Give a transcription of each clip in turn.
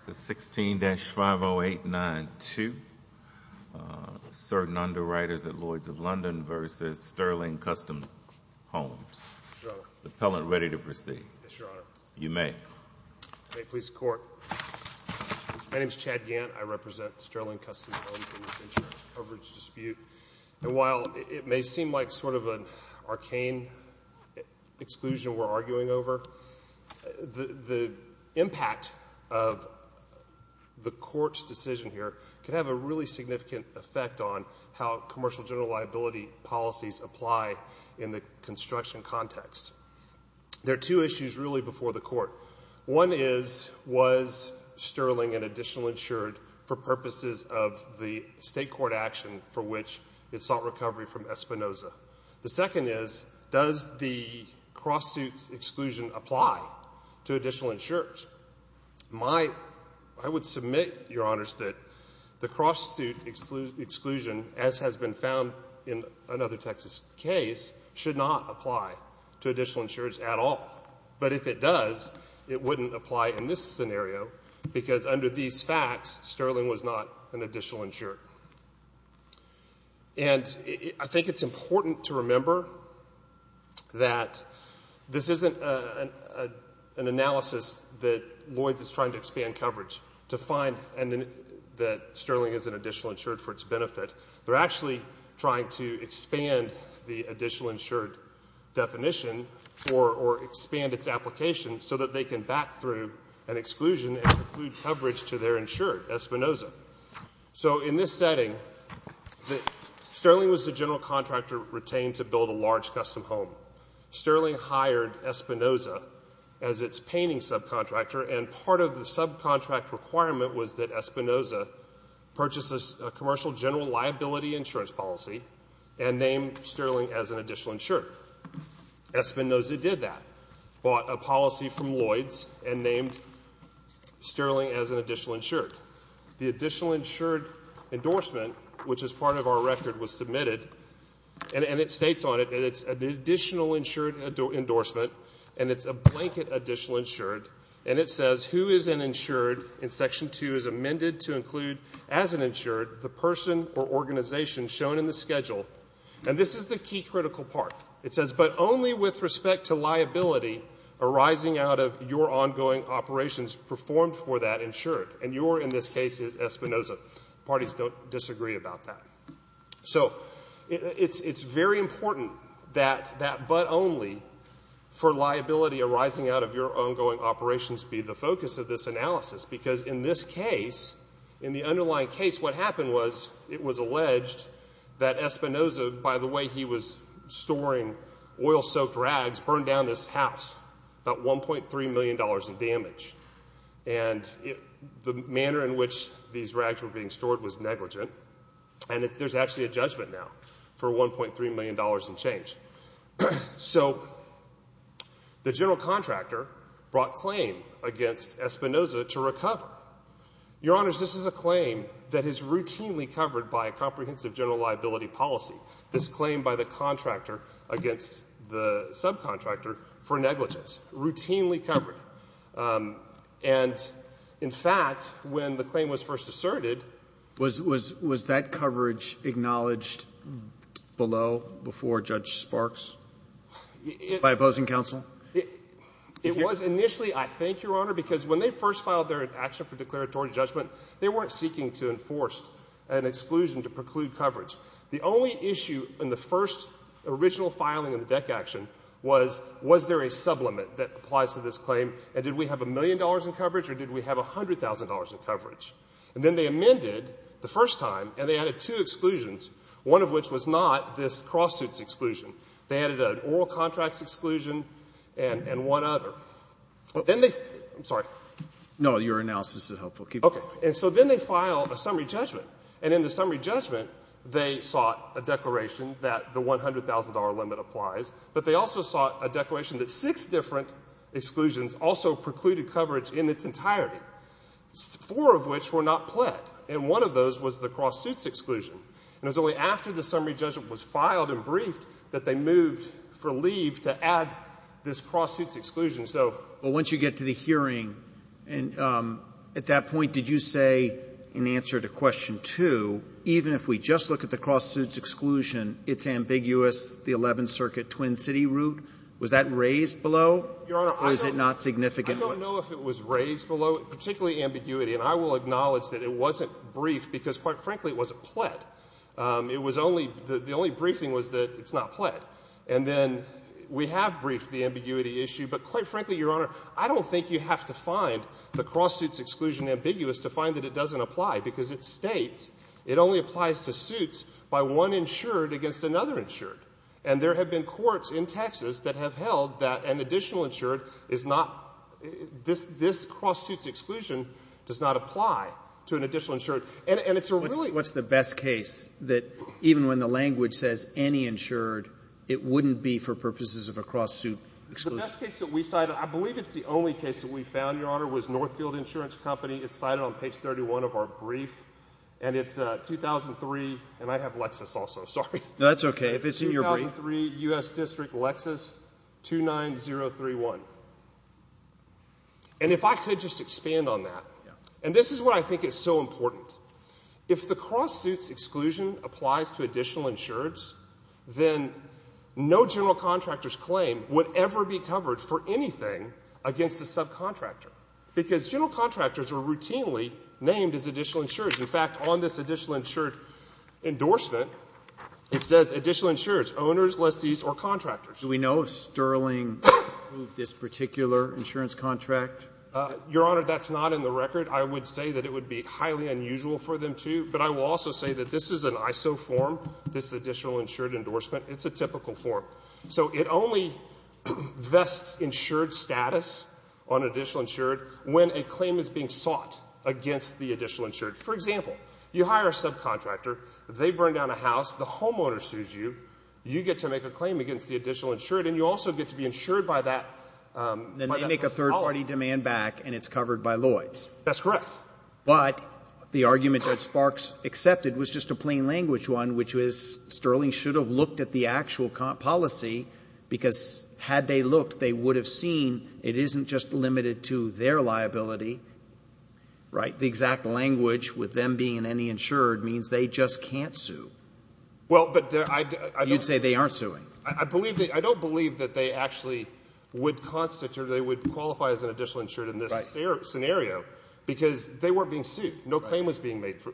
16-50892 Certain Underwriters at Lloyds of London v. Sterling Custom Homes Is the appellant ready to proceed? Yes, Your Honor. You may. May it please the Court. My name is Chad Gant. I represent Sterling Custom Homes in this insurance coverage dispute. And while it may seem like sort of an arcane exclusion we're arguing over, the impact of the Court's decision here could have a really significant effect on how commercial general liability policies apply in the construction context. There are two issues really before the Court. One is, was Sterling an additional insured for purposes of the state court action for which it sought recovery from Espinoza? The second is, does the cross-suit exclusion apply to additional insureds? I would submit, Your Honors, that the cross-suit exclusion, as has been found in another Texas case, should not apply to additional insureds at all. But if it does, it wouldn't apply in this scenario because under these facts, Sterling was not an additional insured. And I think it's important to remember that this isn't an analysis that Lloyds is trying to expand coverage to find that Sterling is an additional insured for its benefit. They're actually trying to expand the additional insured definition or expand its application so that they can back through an exclusion and include coverage to their insured, Espinoza. So in this setting, Sterling was the general contractor retained to build a large custom home. Sterling hired Espinoza as its painting subcontractor. And part of the subcontract requirement was that Espinoza purchase a commercial general liability insurance policy and name Sterling as an additional insured. Espinoza did that, bought a policy from Lloyds and named Sterling as an additional insured. The additional insured endorsement, which is part of our record, was submitted, and it states on it that it's an additional insured endorsement, and it's a blanket additional insured, and it says who is an insured in Section 2 is amended to include as an insured the person or organization shown in the schedule. And this is the key critical part. It says but only with respect to liability arising out of your ongoing operations performed for that insured. And your, in this case, is Espinoza. Parties don't disagree about that. So it's very important that that but only for liability arising out of your ongoing operations be the focus of this analysis. Because in this case, in the underlying case, what happened was it was alleged that Espinoza, by the way he was storing oil-soaked rags, burned down this house, about $1.3 million in damage. And the manner in which these rags were being stored was negligent. And there's actually a judgment now for $1.3 million in change. So the general contractor brought claim against Espinoza to recover. Your Honors, this is a claim that is routinely covered by a comprehensive general liability policy. This claim by the contractor against the subcontractor for negligence, routinely covered. And, in fact, when the claim was first asserted. Was that coverage acknowledged below before Judge Sparks by opposing counsel? It was initially, I think, Your Honor, because when they first filed their action for declaratory judgment, they weren't seeking to enforce an exclusion to preclude coverage. The only issue in the first original filing of the DEC action was, was there a sublimate that applies to this claim? And did we have $1 million in coverage or did we have $100,000 in coverage? And then they amended the first time, and they added two exclusions, one of which was not this cross-suits exclusion. They added an oral contracts exclusion and one other. Then they — I'm sorry. No. Your analysis is helpful. Keep going. Okay. And so then they file a summary judgment. And in the summary judgment, they sought a declaration that the $100,000 limit applies. But they also sought a declaration that six different exclusions also precluded coverage in its entirety, four of which were not pled. And one of those was the cross-suits exclusion. And it was only after the summary judgment was filed and briefed that they moved for leave to add this cross-suits exclusion. So — But once you get to the hearing, at that point, did you say in answer to question two, even if we just look at the cross-suits exclusion, it's ambiguous, the 11th Circuit Twin City route? Was that raised below? Your Honor, I don't — Or is it not significant? I don't know if it was raised below, particularly ambiguity. And I will acknowledge that it wasn't briefed because, quite frankly, it wasn't pled. It was only — the only briefing was that it's not pled. And then we have briefed the ambiguity issue. But, quite frankly, Your Honor, I don't think you have to find the cross-suits exclusion ambiguous to find that it doesn't apply, because it states it only applies to suits by one insured against another insured. And there have been courts in Texas that have held that an additional insured is not — this cross-suits exclusion does not apply to an additional insured. And it's a really — What's the best case that even when the language says any insured, it wouldn't be for purposes of a cross-suit exclusion? The best case that we cited — I believe it's the only case that we found, Your Honor, was Northfield Insurance Company. It's cited on page 31 of our brief. And it's 2003 — and I have Lexis also. Sorry. No, that's okay. If it's in your brief — 2003, U.S. District, Lexis, 29031. And if I could just expand on that — Yeah. And this is what I think is so important. If the cross-suits exclusion applies to additional insureds, then no general contractor's claim would ever be covered for anything against a subcontractor, because general contractors are routinely named as additional insureds. In fact, on this additional insured endorsement, it says additional insureds, owners, lessees, or contractors. Do we know if Sterling approved this particular insurance contract? Your Honor, that's not in the record. I would say that it would be highly unusual for them to. But I will also say that this is an ISO form, this additional insured endorsement. It's a typical form. So it only vests insured status on additional insured when a claim is being sought against the additional insured. For example, you hire a subcontractor. They burn down a house. The homeowner sues you. You get to make a claim against the additional insured. And you also get to be insured by that policy. Then they make a third-party demand back, and it's covered by Lloyds. That's correct. But the argument that Sparks accepted was just a plain language one, which was Sterling should have looked at the actual policy, because had they looked, they would have seen it isn't just limited to their liability. Right? The exact language with them being an insured means they just can't sue. Well, but I don't. You'd say they aren't suing. I don't believe that they actually would constitute or they would qualify as an additional insured in this scenario, because they weren't being sued. Right. No claim was being made. Does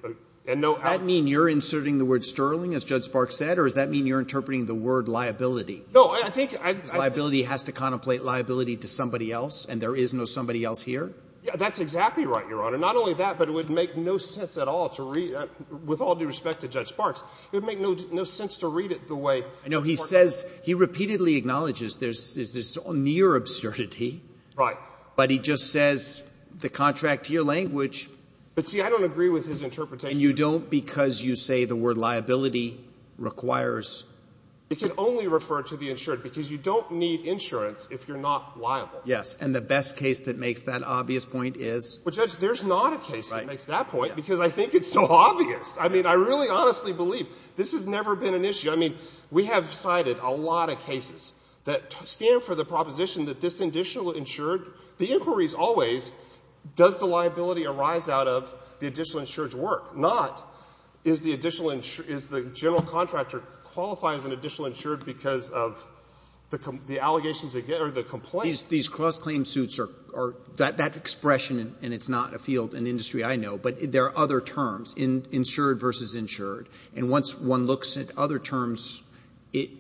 that mean you're inserting the word Sterling, as Judge Sparks said? Or does that mean you're interpreting the word liability? No, I think I — Liability has to contemplate liability to somebody else, and there is no somebody else here? That's exactly right, Your Honor. Not only that, but it would make no sense at all to read — with all due respect to Judge Sparks, it would make no sense to read it the way — I know he says — he repeatedly acknowledges there's this near absurdity. Right. But he just says the contract to your language — But, see, I don't agree with his interpretation. And you don't because you say the word liability requires — It can only refer to the insured, because you don't need insurance if you're not liable. Yes. And the best case that makes that obvious point is — Well, Judge, there's not a case that makes that point, because I think it's so obvious. I mean, I really honestly believe this has never been an issue. I mean, we have cited a lot of cases that stand for the proposition that this additional insured — the inquiry is always, does the liability arise out of the additional insured's work? Not, is the additional — is the general contractor qualified as an additional insured because of the allegations or the complaint? These cross-claim suits are — that expression, and it's not a field in industry I know, but there are other terms, insured versus insured. And once one looks at other terms, it —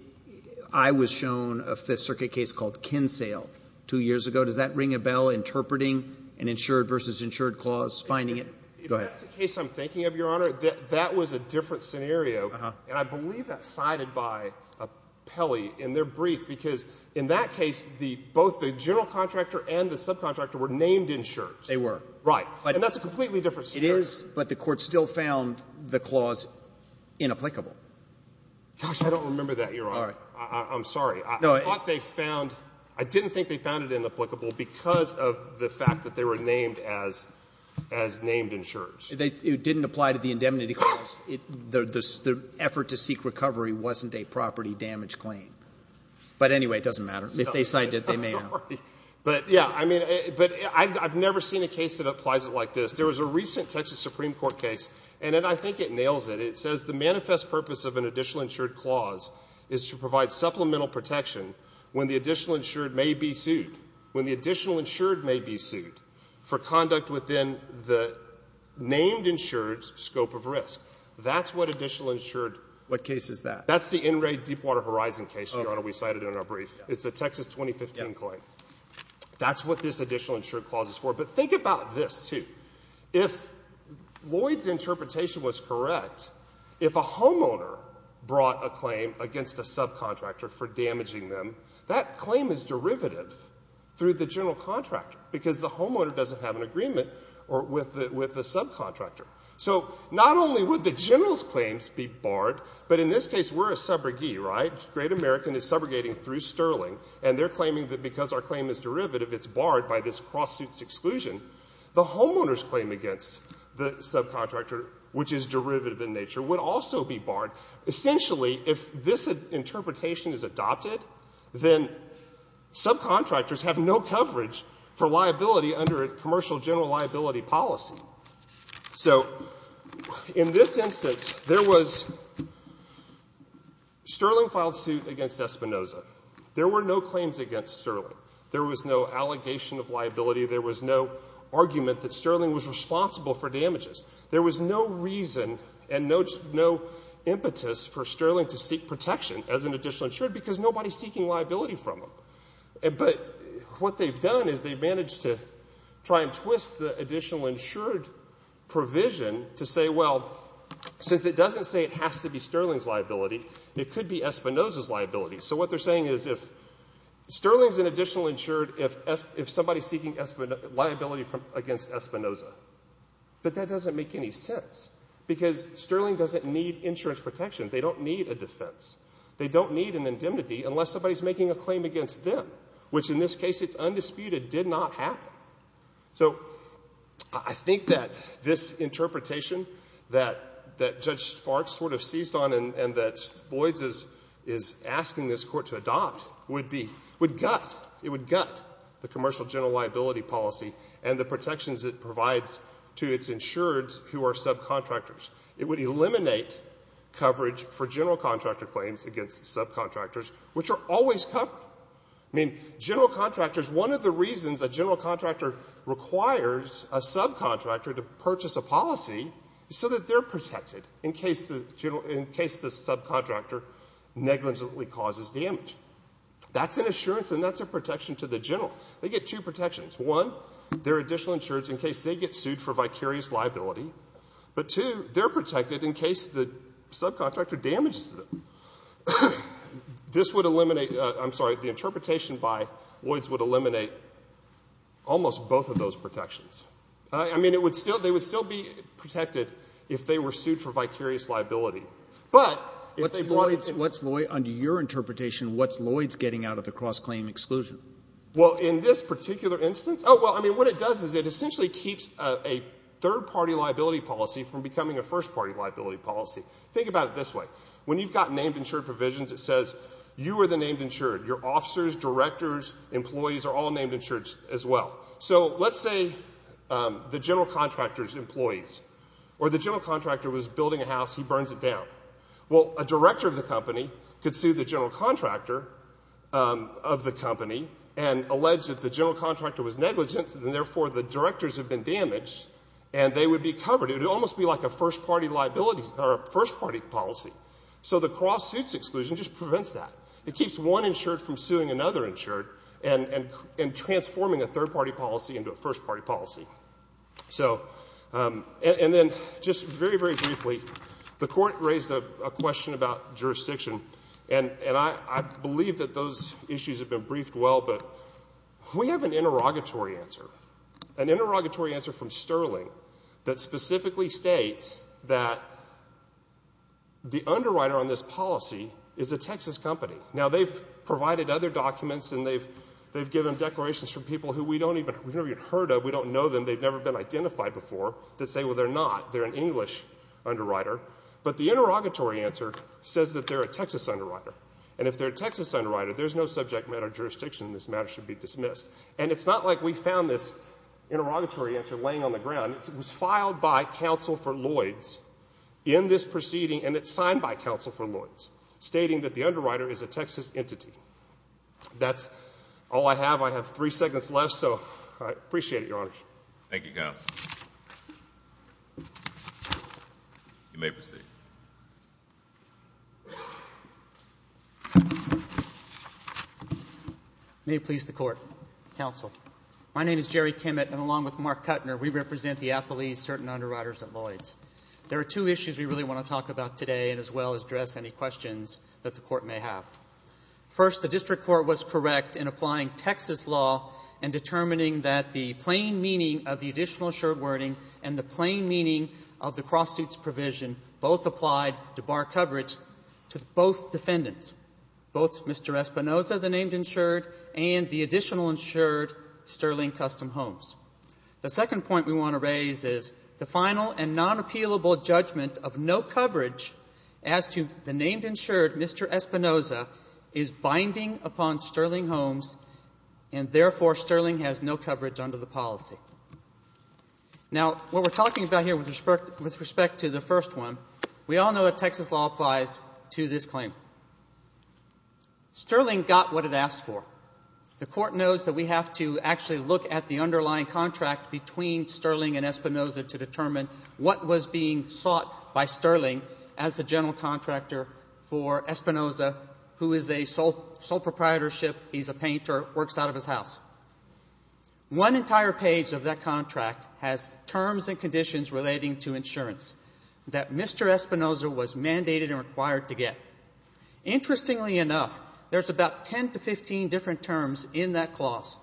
I was shown a Fifth Circuit case called Kinsale two years ago. Does that ring a bell, interpreting an insured versus insured clause, finding it? Go ahead. If that's the case I'm thinking of, Your Honor, that was a different scenario. Uh-huh. And I believe that's cited by Peli in their brief, because in that case, the — both the general contractor and the subcontractor were named insured. They were. Right. And that's a completely different scenario. It is, but the Court still found the clause inapplicable. Gosh, I don't remember that, Your Honor. All right. I'm sorry. I thought they found — I didn't think they found it inapplicable because of the fact that they were named as — as named insured. It didn't apply to the indemnity clause. The effort to seek recovery wasn't a property damage claim. But anyway, it doesn't matter. If they cited it, they may have. I'm sorry. But, yeah, I mean — but I've never seen a case that applies it like this. There was a recent Texas Supreme Court case, and I think it nails it. It says the manifest purpose of an additional insured clause is to provide supplemental protection when the additional insured may be sued. When the additional insured may be sued for conduct within the named insured's scope of risk. That's what additional insured — What case is that? That's the NRA Deepwater Horizon case, Your Honor. We cited it in our brief. It's a Texas 2015 claim. That's what this additional insured clause is for. But think about this, too. If Lloyd's interpretation was correct, if a homeowner brought a claim against a subcontractor for damaging them, that claim is derivative through the general contractor, because the homeowner doesn't have an agreement with the subcontractor. So not only would the general's claims be barred, but in this case, we're a subrogee, right? Great American is subrogating through Sterling, and they're claiming that because our claim is derivative, it's barred by this cross-suits exclusion. The homeowner's claim against the subcontractor, which is derivative in nature, would also be barred. Essentially, if this interpretation is adopted, then subcontractors have no coverage for liability under a commercial general liability policy. So in this instance, there was — Sterling filed suit against Espinoza. There were no claims against Sterling. There was no allegation of liability. There was no argument that Sterling was responsible for damages. There was no reason and no impetus for Sterling to seek protection as an additional insured, because nobody's seeking liability from him. But what they've done is they've managed to try and twist the additional insured provision to say, well, since it doesn't say it has to be Sterling's liability, it could be Espinoza's liability. So what they're saying is if — Sterling's an additional insured if somebody's seeking liability against Espinoza. But that doesn't make any sense, because Sterling doesn't need insurance protection. They don't need a defense. They don't need an indemnity unless somebody's making a claim against them, which in this case, it's undisputed, did not happen. So I think that this interpretation that Judge Sparks sort of seized on and that Boyds is asking this Court to adopt would be — would gut — it would gut the commercial general liability policy and the protections it provides to its insureds who are subcontractors. It would eliminate coverage for general contractor claims against subcontractors, which are always covered. I mean, general contractors — one of the reasons a general contractor requires a subcontractor to purchase a policy is so that they're protected in case the subcontractor negligently causes damage. That's an assurance and that's a protection to the general. They get two protections. One, they're additional insureds in case they get sued for vicarious liability. But two, they're protected in case the subcontractor damages them. This would eliminate — I'm sorry, the interpretation by Boyds would eliminate almost both of those protections. I mean, it would still — they would still be protected if they were sued for vicarious liability. But if they brought — What's — under your interpretation, what's Lloyds getting out of the cross-claim exclusion? Well, in this particular instance — oh, well, I mean, what it does is it essentially keeps a third-party liability policy from becoming a first-party liability policy. Think about it this way. When you've got named insured provisions, it says you are the named insured. Your officers, directors, employees are all named insured as well. So let's say the general contractor's employees or the general contractor was building a house, he burns it down. Well, a director of the company could sue the general contractor of the company and allege that the general contractor was negligent, and therefore the directors have been damaged, and they would be covered. It would almost be like a first-party liability — or a first-party policy. So the cross-suits exclusion just prevents that. It keeps one insured from suing another insured and transforming a third-party policy into a first-party policy. So — and then just very, very briefly, the court raised a question about jurisdiction, and I believe that those issues have been briefed well, but we have an interrogatory answer, an interrogatory answer from Sterling that specifically states that the underwriter on this policy is a Texas company. Now, they've provided other documents, and they've given declarations from people who we've never even heard of, we don't know them, they've never been identified before, that say, well, they're not, they're an English underwriter. But the interrogatory answer says that they're a Texas underwriter. And if they're a Texas underwriter, there's no subject matter jurisdiction, and this matter should be dismissed. And it's not like we found this interrogatory answer laying on the ground. It was filed by counsel for Lloyds in this proceeding, and it's signed by counsel for Lloyds, stating that the underwriter is a Texas entity. That's all I have. I have three seconds left, so I appreciate it, Your Honor. Thank you, counsel. You may proceed. May it please the court. Counsel, my name is Jerry Kimmett, and along with Mark Kuttner, we represent the appellees, certain underwriters at Lloyds. There are two issues we really want to talk about today, as well as address any questions that the court may have. First, the district court was correct in applying Texas law and determining that the plain meaning of the additional insured wording and the plain meaning of the cross-suits provision both applied to bar coverage to both defendants, both Mr. Espinoza, the named insured, and the additional insured, Sterling Custom Homes. The second point we want to raise is the final and non-appealable judgment of no binding upon Sterling Homes, and therefore, Sterling has no coverage under the policy. Now, what we're talking about here with respect to the first one, we all know that Texas law applies to this claim. Sterling got what it asked for. The court knows that we have to actually look at the underlying contract between Sterling and Espinoza to determine what was being sought by Sterling as the general contractor for Espinoza, who is a sole proprietorship. He's a painter. Works out of his house. One entire page of that contract has terms and conditions relating to insurance that Mr. Espinoza was mandated and required to get. Interestingly enough, there's about 10 to 15 different terms in that clause.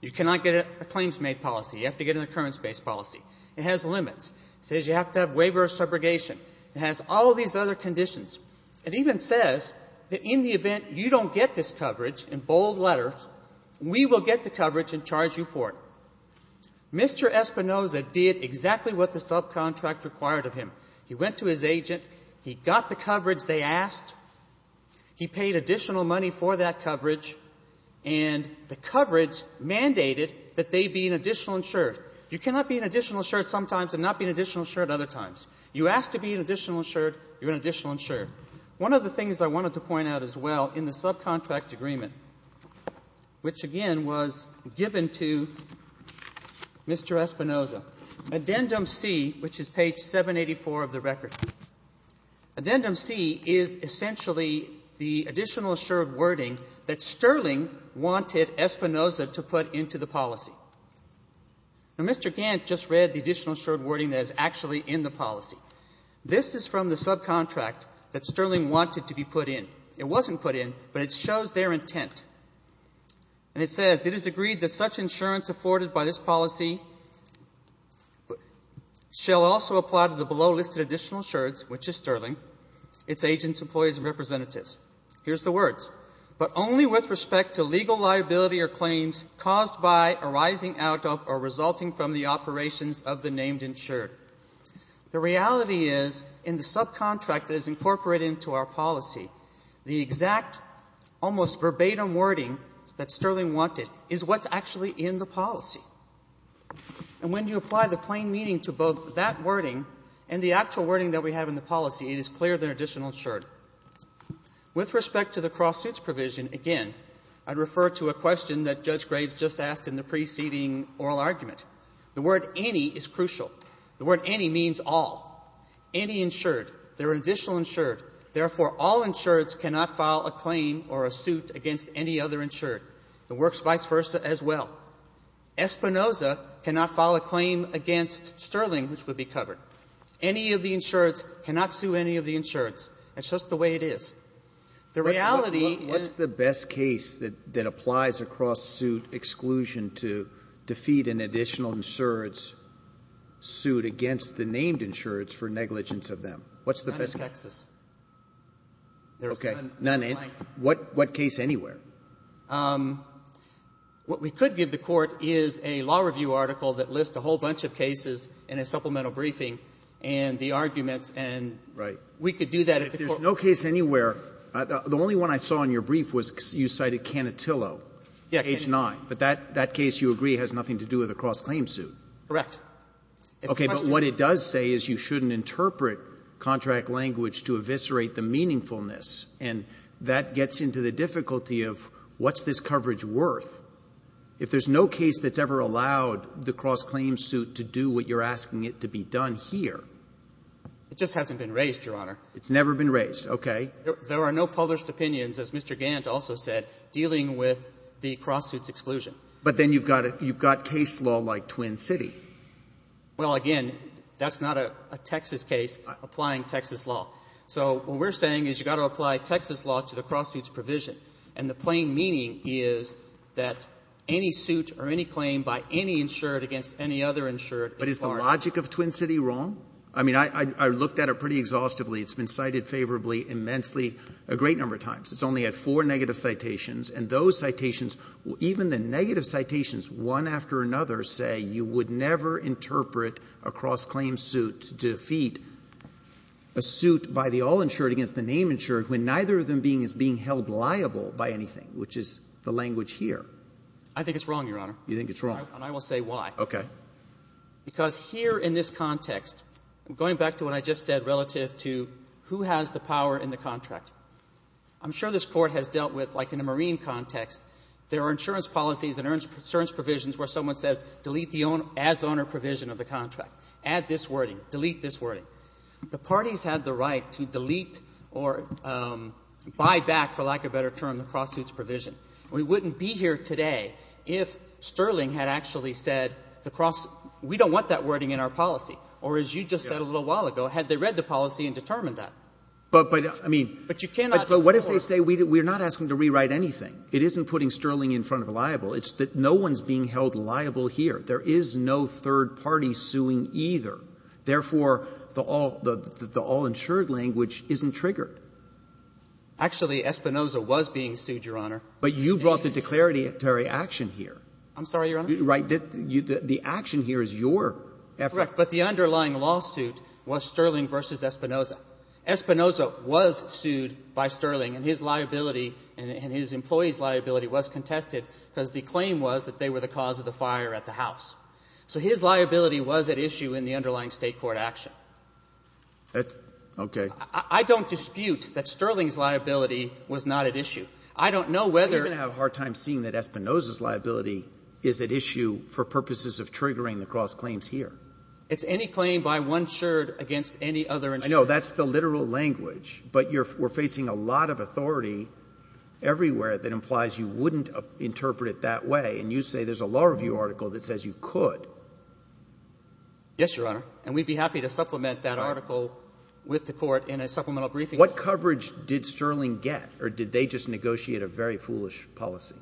You cannot get a claims-made policy. You have to get an occurrence-based policy. It has limits. It says you have to have waiver of subrogation. It has all these other conditions. It even says that in the event you don't get this coverage, in bold letters, we will get the coverage and charge you for it. Mr. Espinoza did exactly what the subcontract required of him. He went to his agent. He got the coverage they asked. He paid additional money for that coverage. And the coverage mandated that they be an additional insured. You cannot be an additional insured sometimes and not be an additional insured other times. You ask to be an additional insured, you're an additional insured. One of the things I wanted to point out as well in the subcontract agreement, which again was given to Mr. Espinoza, addendum C, which is page 784 of the record. Addendum C is essentially the additional insured wording that Sterling wanted Espinoza to put into the policy. Now, Mr. Gant just read the additional insured wording that is actually in the policy. This is from the subcontract that Sterling wanted to be put in. It wasn't put in, but it shows their intent. And it says, It is agreed that such insurance afforded by this policy shall also apply to the below listed additional insureds, which is Sterling, its agents, employees, and representatives. Here's the words. But only with respect to legal liability or claims caused by arising out of or resulting from the operations of the named insured. The reality is in the subcontract that is incorporated into our policy, the exact, almost verbatim wording that Sterling wanted is what's actually in the policy. And when you apply the plain meaning to both that wording and the actual wording that we have in the policy, it is clearer than additional insured. With respect to the cross-suits provision, again, I'd refer to a question that Judge Graves just asked in the preceding oral argument. The word any is crucial. The word any means all. Any insured. There are additional insured. Therefore, all insureds cannot file a claim or a suit against any other insured. It works vice versa as well. Espinoza cannot file a claim against Sterling, which would be covered. Any of the insureds cannot sue any of the insureds. That's just the way it is. The reality is the best case that applies a cross-suit exclusion to defeat an additional insured's suit against the named insureds for negligence of them. What's the best case? None in Texas. Okay. None in. What case anywhere? What we could give the Court is a law review article that lists a whole bunch of cases in a supplemental briefing and the arguments, and we could do that at the Court. Right. If there's no case anywhere, the only one I saw in your brief was you cited Cannotillo. Yeah. H-9. But that case, you agree, has nothing to do with a cross-claim suit. Correct. It's a question. Okay. But what it does say is you shouldn't interpret contract language to eviscerate the meaningfulness. And that gets into the difficulty of what's this coverage worth? If there's no case that's ever allowed the cross-claim suit to do what you're asking it to be done here. It just hasn't been raised, Your Honor. It's never been raised. Okay. There are no published opinions, as Mr. Gant also said, dealing with the cross-suit exclusion. But then you've got case law like Twin City. Well, again, that's not a Texas case applying Texas law. So what we're saying is you've got to apply Texas law to the cross-suit's provision. And the plain meaning is that any suit or any claim by any insured against any other insured is barred. But is the logic of Twin City wrong? I mean, I looked at it pretty exhaustively. It's been cited favorably immensely a great number of times. It's only had four negative citations. And those citations, even the negative citations, one after another, say you would never interpret a cross-claim suit to defeat a suit by the all-insured against the name-insured when neither of them being held liable by anything, which is the language here. I think it's wrong, Your Honor. You think it's wrong. And I will say why. Okay. Because here in this context, going back to what I just said relative to who has the power in the contract, I'm sure this Court has dealt with, like in a marine context, there are insurance policies and insurance provisions where someone says delete the as-owner provision of the contract, add this wording, delete this wording. The parties have the right to delete or buy back, for lack of a better term, the cross-suit's provision. We wouldn't be here today if Sterling had actually said the cross — we don't want that wording in our policy, or as you just said a little while ago, had they read the policy and determined that. But you cannot go forward. But what if they say we're not asking to rewrite anything? It isn't putting Sterling in front of liable. It's that no one's being held liable here. There is no third party suing either. Therefore, the all — the all-insured language isn't triggered. Actually, Espinoza was being sued, Your Honor. But you brought the declaratory action here. I'm sorry, Your Honor? Right. The action here is your effort. Correct. But the underlying lawsuit was Sterling v. Espinoza. Espinoza was sued by Sterling, and his liability and his employee's liability was contested because the claim was that they were the cause of the fire at the house. So his liability was at issue in the underlying State court action. That's — okay. I don't dispute that Sterling's liability was not at issue. I don't know whether — You're going to have a hard time seeing that Espinoza's liability is at issue for purposes of triggering the cross-claims here. It's any claim by one insured against any other insured. I know. That's the literal language. But you're — we're facing a lot of authority everywhere that implies you wouldn't interpret it that way. And you say there's a law review article that says you could. Yes, Your Honor. And we'd be happy to supplement that article with the court in a supplemental briefing. What coverage did Sterling get? Or did they just negotiate a very foolish policy?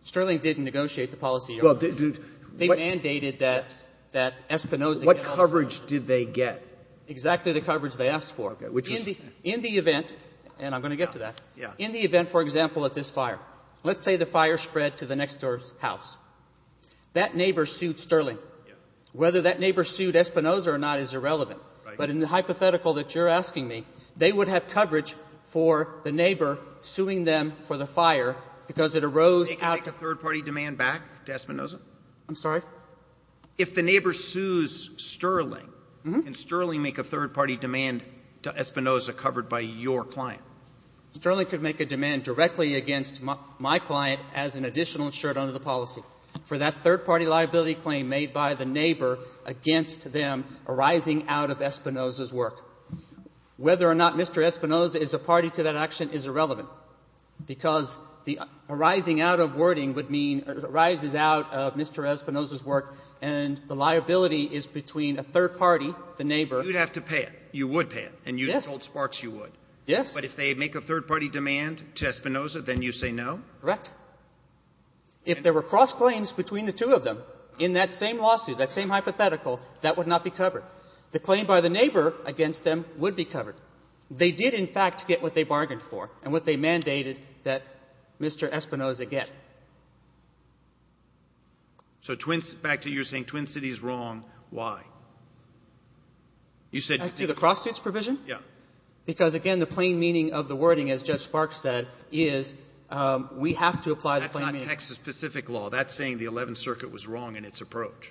Sterling didn't negotiate the policy, Your Honor. They mandated that — that Espinoza — What coverage did they get? Exactly the coverage they asked for. Okay. Which was — In the — in the event — and I'm going to get to that. Yeah. In the event, for example, that this fire — let's say the fire spread to the next house, that neighbor sued Sterling. Whether that neighbor sued Espinoza or not is irrelevant. Right. But in the hypothetical that you're asking me, they would have coverage for the neighbor suing them for the fire because it arose out of — They could make a third-party demand back to Espinoza? I'm sorry? If the neighbor sues Sterling, can Sterling make a third-party demand to Espinoza covered by your client? Sterling could make a demand directly against my — my client as an additional insurance under the policy for that third-party liability claim made by the neighbor against them arising out of Espinoza's work. Whether or not Mr. Espinoza is a party to that action is irrelevant, because the arising out of wording would mean — arises out of Mr. Espinoza's work, and the liability is between a third party, the neighbor — You'd have to pay it. You would pay it. Yes. And you told Sparks you would. Yes. But if they make a third-party demand to Espinoza, then you say no? Correct. If there were cross-claims between the two of them in that same lawsuit, that same hypothetical, that would not be covered. The claim by the neighbor against them would be covered. They did, in fact, get what they bargained for and what they mandated that Mr. Espinoza get. So twins — back to you saying Twin Cities is wrong, why? You said — As to the cross-suits provision? Yeah. Because, again, the plain meaning of the wording, as Judge Sparks said, is we have to apply the plain meaning. That's not Texas-specific law. That's saying the Eleventh Circuit was wrong in its approach.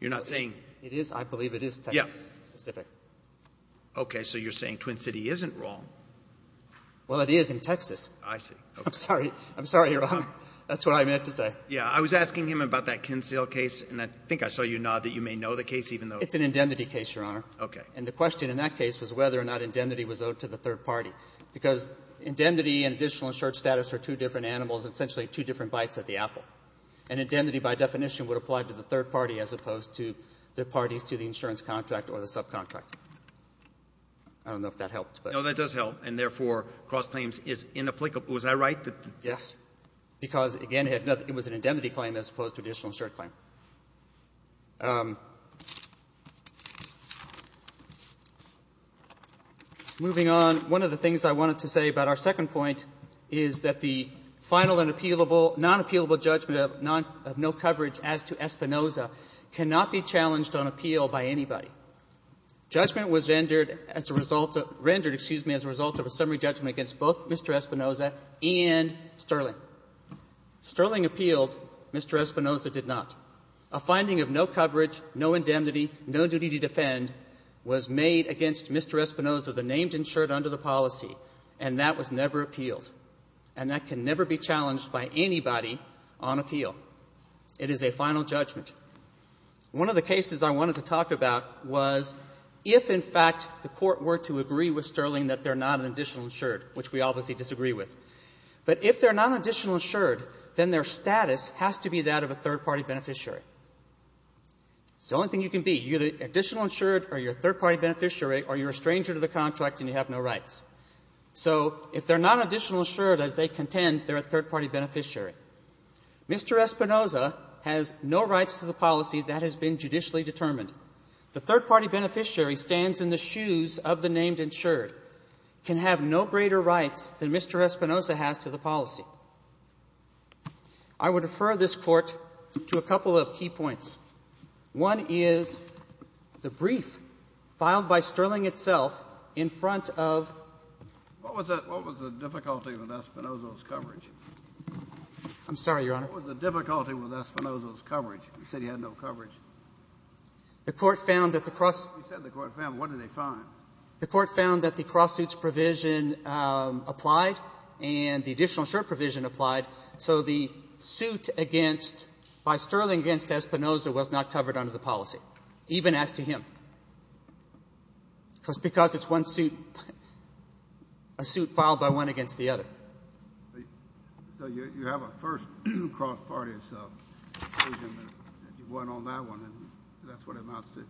You're not saying — It is. I believe it is Texas-specific. Yeah. Okay. So you're saying Twin City isn't wrong. Well, it is in Texas. I see. I'm sorry. I'm sorry, Your Honor. That's what I meant to say. Yeah. I was asking him about that Kinsale case, and I think I saw you nod that you may know the case, even though — It's an indemnity case, Your Honor. Okay. And the question in that case was whether or not indemnity was owed to the third And indemnity, by definition, would apply to the third party as opposed to the parties to the insurance contract or the subcontract. I don't know if that helped, but — No, that does help. And, therefore, cross-claims is inapplicable. Was I right? Yes. Because, again, it was an indemnity claim as opposed to an additional insurance claim. Moving on, one of the things I wanted to say about our second point is that the final and appealable — non-appealable judgment of non — of no coverage as to Espinoza cannot be challenged on appeal by anybody. Judgment was rendered as a result of — rendered, excuse me, as a result of a summary judgment against both Mr. Espinoza and Sterling. Sterling appealed. Mr. Espinoza did not. A finding of no coverage, no indemnity, no duty to defend was made against Mr. Espinoza, the named insured under the policy, and that was never appealed. And that can never be challenged by anybody on appeal. It is a final judgment. One of the cases I wanted to talk about was if, in fact, the Court were to agree with Sterling that they're not an additional insured, which we obviously disagree with. But if they're not an additional insured, then their status has to be that of a third party beneficiary. It's the only thing you can be. You're the additional insured or you're a third party beneficiary or you're a stranger to the contract and you have no rights. So if they're not an additional insured as they contend, they're a third party beneficiary. Mr. Espinoza has no rights to the policy that has been judicially determined. The third party beneficiary stands in the shoes of the named insured, can have no greater rights than Mr. Espinoza has to the policy. I would refer this Court to a couple of key points. One is the brief filed by Sterling itself in front of the court found that the cross suits provision applied and the additional insured provision applied, so the suit against, by Sterling against Espinoza was not an additional insured. Espinoza was not covered under the policy, even as to him. Because it's one suit, a suit filed by one against the other. So you have a first cross party exclusion and you won on that one and that's what it amounts to?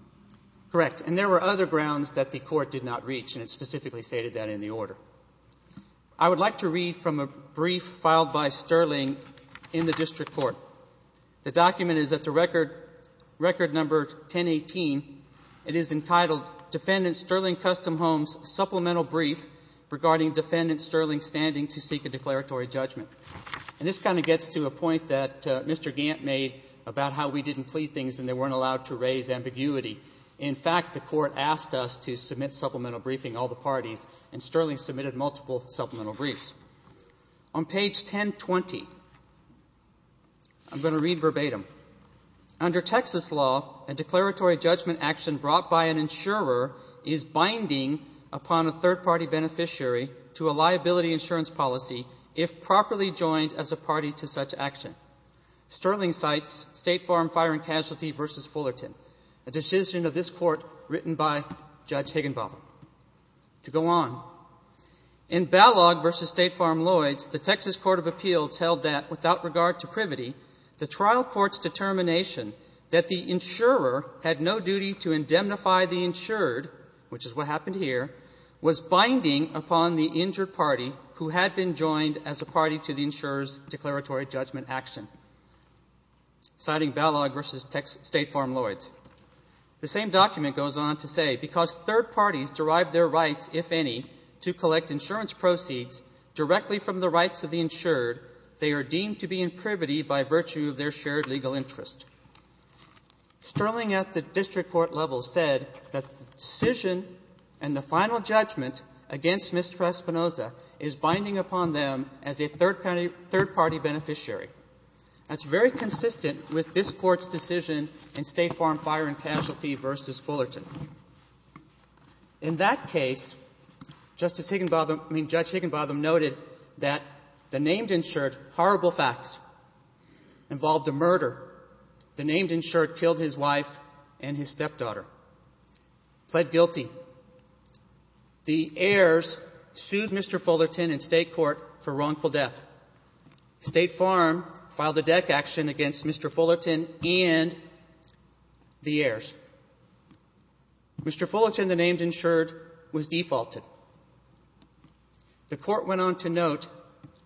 Correct. And there were other grounds that the Court did not reach and it specifically stated that in the order. I would like to read from a brief filed by Sterling in the district court. The document is at the record number 1018. It is entitled Defendant Sterling Custom Homes Supplemental Brief Regarding Defendant Sterling Standing to Seek a Declaratory Judgment. And this kind of gets to a point that Mr. Gant made about how we didn't plead things and they weren't allowed to raise ambiguity. In fact, the court asked us to submit supplemental briefing, all the parties, and Sterling submitted multiple supplemental briefs. On page 1020, I'm going to read verbatim. Under Texas law, a declaratory judgment action brought by an insurer is binding upon a third party beneficiary to a liability insurance policy if properly joined as a party to such action. Sterling cites State Farm Fire and Casualty v. Fullerton, a decision of this court written by Judge Higginbotham. To go on, in Balog v. State Farm Lloyds, the Texas Court of Appeals held that, without regard to privity, the trial court's determination that the insurer had no duty to indemnify the insured, which is what happened here, was binding upon the injured party who had been joined as a party to the insurer's declaratory judgment action. Citing Balog v. State Farm Lloyds. The same document goes on to say, because third parties derive their rights, if any, to collect insurance proceeds directly from the rights of the insured, they are deemed to be in privity by virtue of their shared legal interest. Sterling, at the district court level, said that the decision and the final judgment against Mr. Espinoza is binding upon them as a third party beneficiary. That's very consistent with this Court's decision in State Farm Fire and Casualty v. Fullerton. In that case, Justice Higginbotham – I mean, Judge Higginbotham noted that the named insured, horrible facts, involved a murder. The named insured killed his wife and his stepdaughter, pled guilty. The heirs sued Mr. Fullerton in State Court for wrongful death. State Farm filed a deck action against Mr. Fullerton and the heirs. Mr. Fullerton, the named insured, was defaulted. The Court went on to note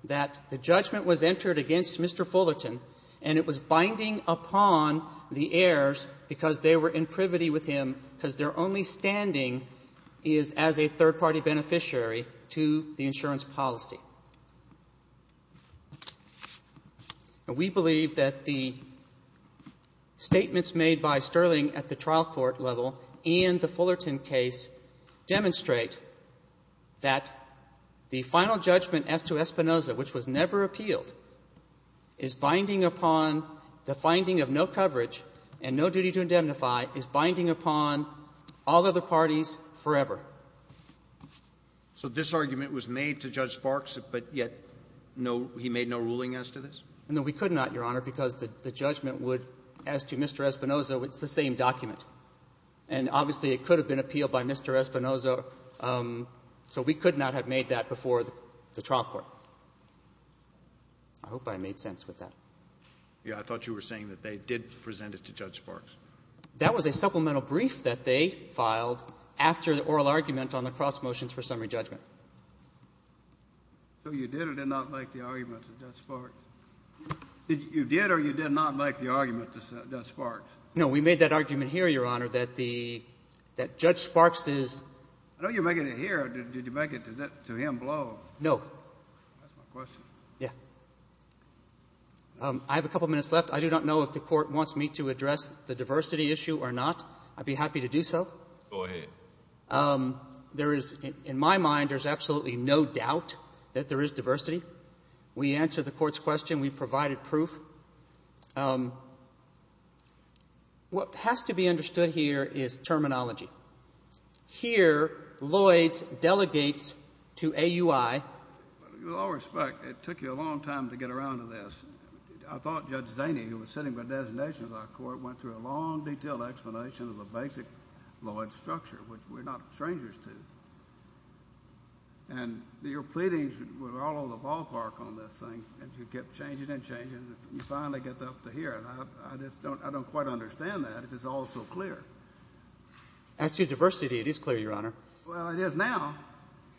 that the judgment was entered against Mr. Fullerton, and it was binding upon the heirs because they were in privity with him because their only standing is as a third party beneficiary to the insurance policy. We believe that the statements made by Sterling at the trial court level and the Fullerton case demonstrate that the final judgment as to Espinoza, which was never appealed, is binding upon the finding of no coverage and no duty to indemnify, is binding upon all other parties forever. So this argument was made to Judge Sparks, but yet no – he made no ruling as to this? No, we could not, Your Honor, because the judgment would, as to Mr. Espinoza, it's the same document. And obviously, it could have been appealed by Mr. Espinoza, so we could not have made that before the trial court. I hope I made sense with that. Yeah. I thought you were saying that they did present it to Judge Sparks. That was a supplemental brief that they filed after the oral argument on the cross motions for summary judgment. So you did or did not make the argument to Judge Sparks? You did or you did not make the argument to Judge Sparks? No, we made that argument here, Your Honor, that the – that Judge Sparks is – I know you're making it here. Did you make it to him below? No. That's my question. Yeah. I have a couple minutes left. I do not know if the Court wants me to address the diversity issue or not. I'd be happy to do so. Go ahead. There is – in my mind, there's absolutely no doubt that there is diversity. We answered the Court's question. We provided proof. What has to be understood here is terminology. Here, Lloyds delegates to AUI. With all respect, it took you a long time to get around to this. I thought Judge Zaney, who was sitting by designation of our Court, went through a long, detailed explanation of the basic Lloyds structure, which we're not strangers to. And your pleadings were all on the ballpark on this thing, and you kept changing and changing until you finally got up to here. And I just don't – I don't quite understand that. It's all so clear. As to diversity, it is clear, Your Honor. Well, it is now,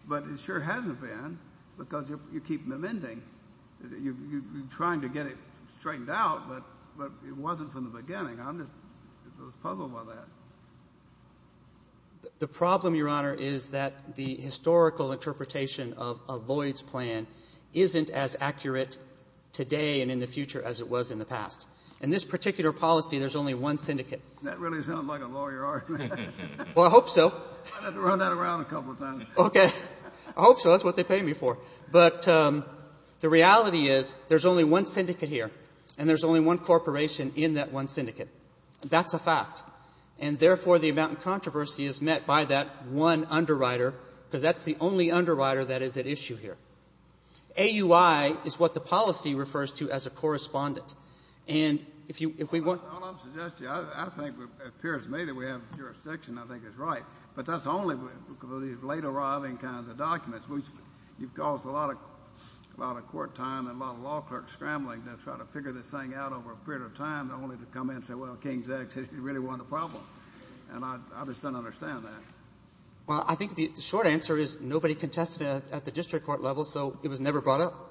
but it sure hasn't been because you're keeping them ending. You're trying to get it straightened out, but it wasn't from the beginning. I'm just puzzled by that. The problem, Your Honor, is that the historical interpretation of a Lloyds plan isn't as accurate today and in the future as it was in the past. In this particular policy, there's only one syndicate. That really sounds like a lawyer argument. Well, I hope so. I've had to run that around a couple of times. Okay. I hope so. That's what they pay me for. But the reality is there's only one syndicate here, and there's only one corporation in that one syndicate. That's a fact. And therefore, the amount of controversy is met by that one underwriter because that's the only underwriter that is at issue here. AUI is what the policy refers to as a correspondent. And if you – if we want – All I'm suggesting, I think it appears to me that we have jurisdiction, I think is right. But that's only with these late-arriving kinds of documents. You've caused a lot of court time and a lot of law clerks scrambling to try to figure this thing out over a period of time only to come in and say, well, King's X really won the problem. And I just don't understand that. Well, I think the short answer is nobody contested it at the district court level, so it was never brought up.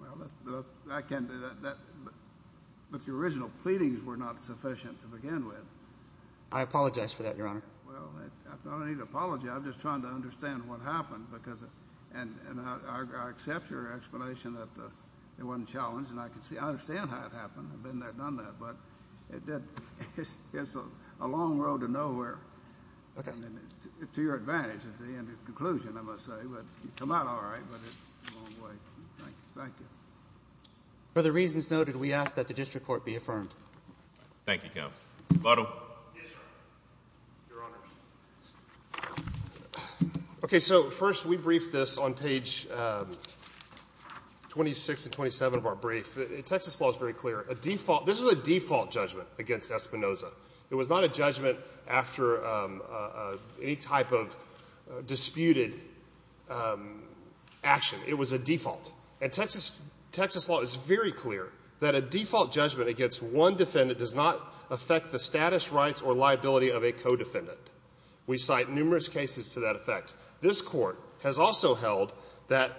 Well, I can't do that. But the original pleadings were not sufficient to begin with. I apologize for that, Your Honor. Well, I don't need to apologize. I'm just trying to understand what happened because – and I accept your explanation that it wasn't challenged, and I can see – I understand how it happened. I've been there, done that. But it did – it's a long road to nowhere. Okay. To your advantage at the end of the conclusion, I must say. It would come out all right, but it's a long way. Thank you. For the reasons noted, we ask that the district court be affirmed. Thank you, counsel. Lotto. Yes, Your Honor. Your Honors. Okay, so first we briefed this on page 26 and 27 of our brief. Texas law is very clear. A default – this was a default judgment against Espinoza. It was not a judgment after any type of disputed action. It was a default. And Texas law is very clear that a default judgment against one defendant does not affect the status, rights, or liability of a co-defendant. We cite numerous cases to that effect. This court has also held that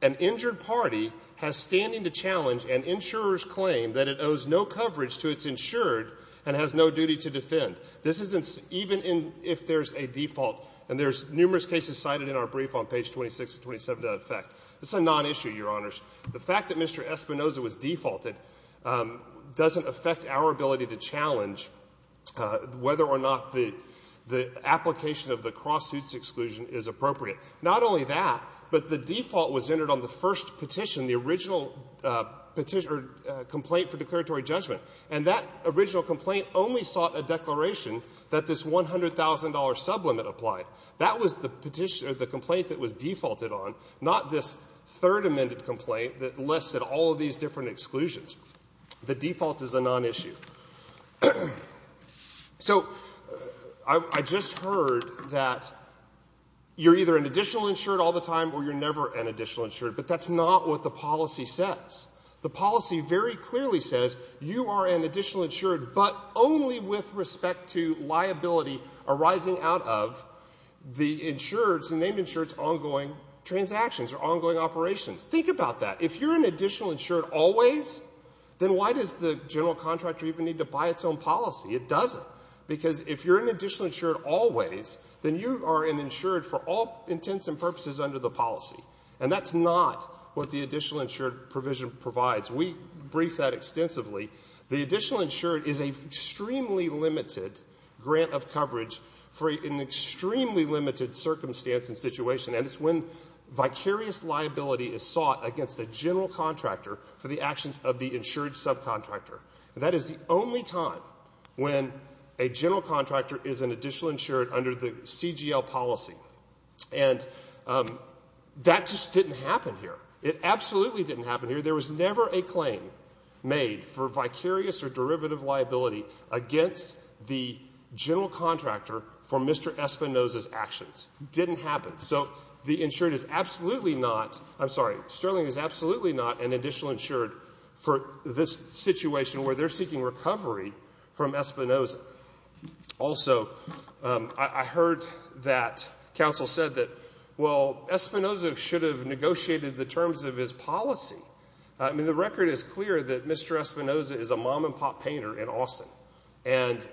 an injured party has standing to challenge an insurer's claim that it owes no coverage to its insured and has no duty to defend. This isn't – even if there's a default, and there's numerous cases cited in our brief on page 26 and 27 to that effect, it's a non-issue, Your Honors. The fact that Mr. Espinoza was defaulted doesn't affect our ability to challenge whether or not the application of the cross-suits exclusion is appropriate. Not only that, but the default was entered on the first petition, the original petition – or complaint for declaratory judgment. And that original complaint only sought a declaration that this $100,000 sublimit applied. That was the petition – or the complaint that was defaulted on, not this third amended complaint that listed all of these different exclusions. The default is a non-issue. So I just heard that you're either an additional insured all the time or you're never an additional insured. But that's not what the policy says. The policy very clearly says you are an additional insured, but only with respect to liability arising out of the insured's – the named insured's ongoing transactions or ongoing operations. Think about that. If you're an additional insured always, then why does the general contractor even need to buy its own policy? It doesn't. Because if you're an additional insured always, then you are an insured for all intents and purposes under the policy. And that's not what the additional insured provision provides. We brief that extensively. The additional insured is an extremely limited grant of coverage for an extremely limited circumstance and situation, and it's when vicarious liability is sought against a general contractor for the actions of the insured subcontractor. And that is the only time when a general contractor is an additional insured under the CGL policy. And that just didn't happen here. It absolutely didn't happen here. There was never a claim made for vicarious or derivative liability against the general contractor for Mr. Espinoza's actions. It didn't happen. So the insured is absolutely not – I'm sorry, Sterling is absolutely not an additional insured for this situation where they're seeking recovery from Espinoza. Also, I heard that counsel said that, well, Espinoza should have negotiated the terms of his policy. I mean, the record is clear that Mr. Espinoza is a mom-and-pop painter in Austin. And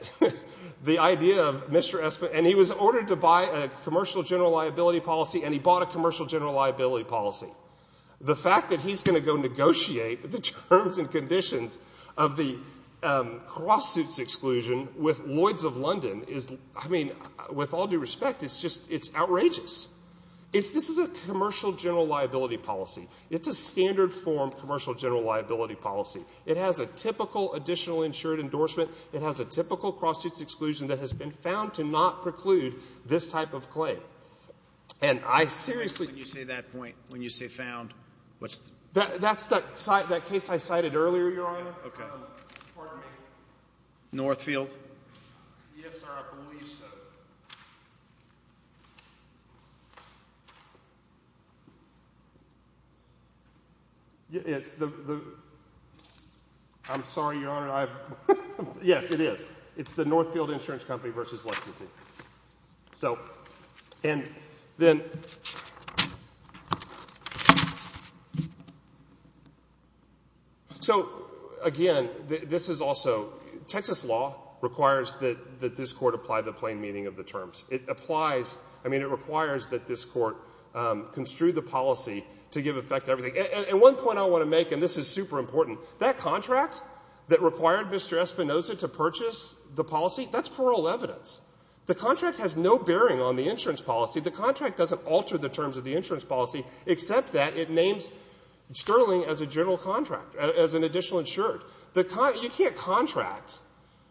the idea of Mr. Espinoza – and he was ordered to buy a commercial general liability policy, and he bought a commercial general liability policy. The fact that he's going to go negotiate the terms and conditions of the cross-suits exclusion with Lloyds of London is – I mean, with all due respect, it's just – it's outrageous. This is a commercial general liability policy. It's a standard form commercial general liability policy. It has a typical additional insured endorsement. It has a typical cross-suits exclusion that has been found to not preclude this type of claim. And I seriously – When you say that point, when you say found, what's – That's the case I cited earlier, Your Honor. Pardon me. Northfield? Yes, sir, I believe so. It's the – I'm sorry, Your Honor. Yes, it is. It's the Northfield Insurance Company v. Lexington. So – and then – So, again, this is also – Texas law requires that this court apply the plain meaning of the terms. It applies – I mean, it requires that this court construe the policy to give effect to everything. And one point I want to make, and this is super important, that contract that required Mr. Espinoza to purchase the policy, that's parole evidence. The contract has no bearing on the insurance policy. The contract doesn't alter the terms of the insurance policy, except that it names Sterling as a general contractor, as an additional insured. The – you can't contract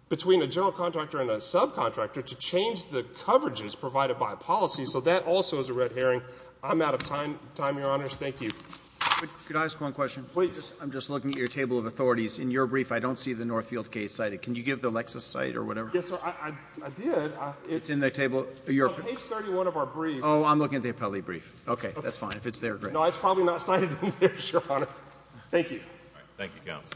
between a general contractor and a subcontractor to change the coverages provided by a policy. So that also is a red herring. I'm out of time, Your Honors. Thank you. Could I ask one question? Please. I'm just looking at your table of authorities. In your brief, I don't see the Northfield case cited. Can you give the Lexis site or whatever? Yes, sir. I did. It's in the table. Page 31 of our brief. Oh, I'm looking at the appellee brief. Okay. That's fine. If it's there, great. No, it's probably not cited in there, Your Honor. Thank you. Thank you, counsel.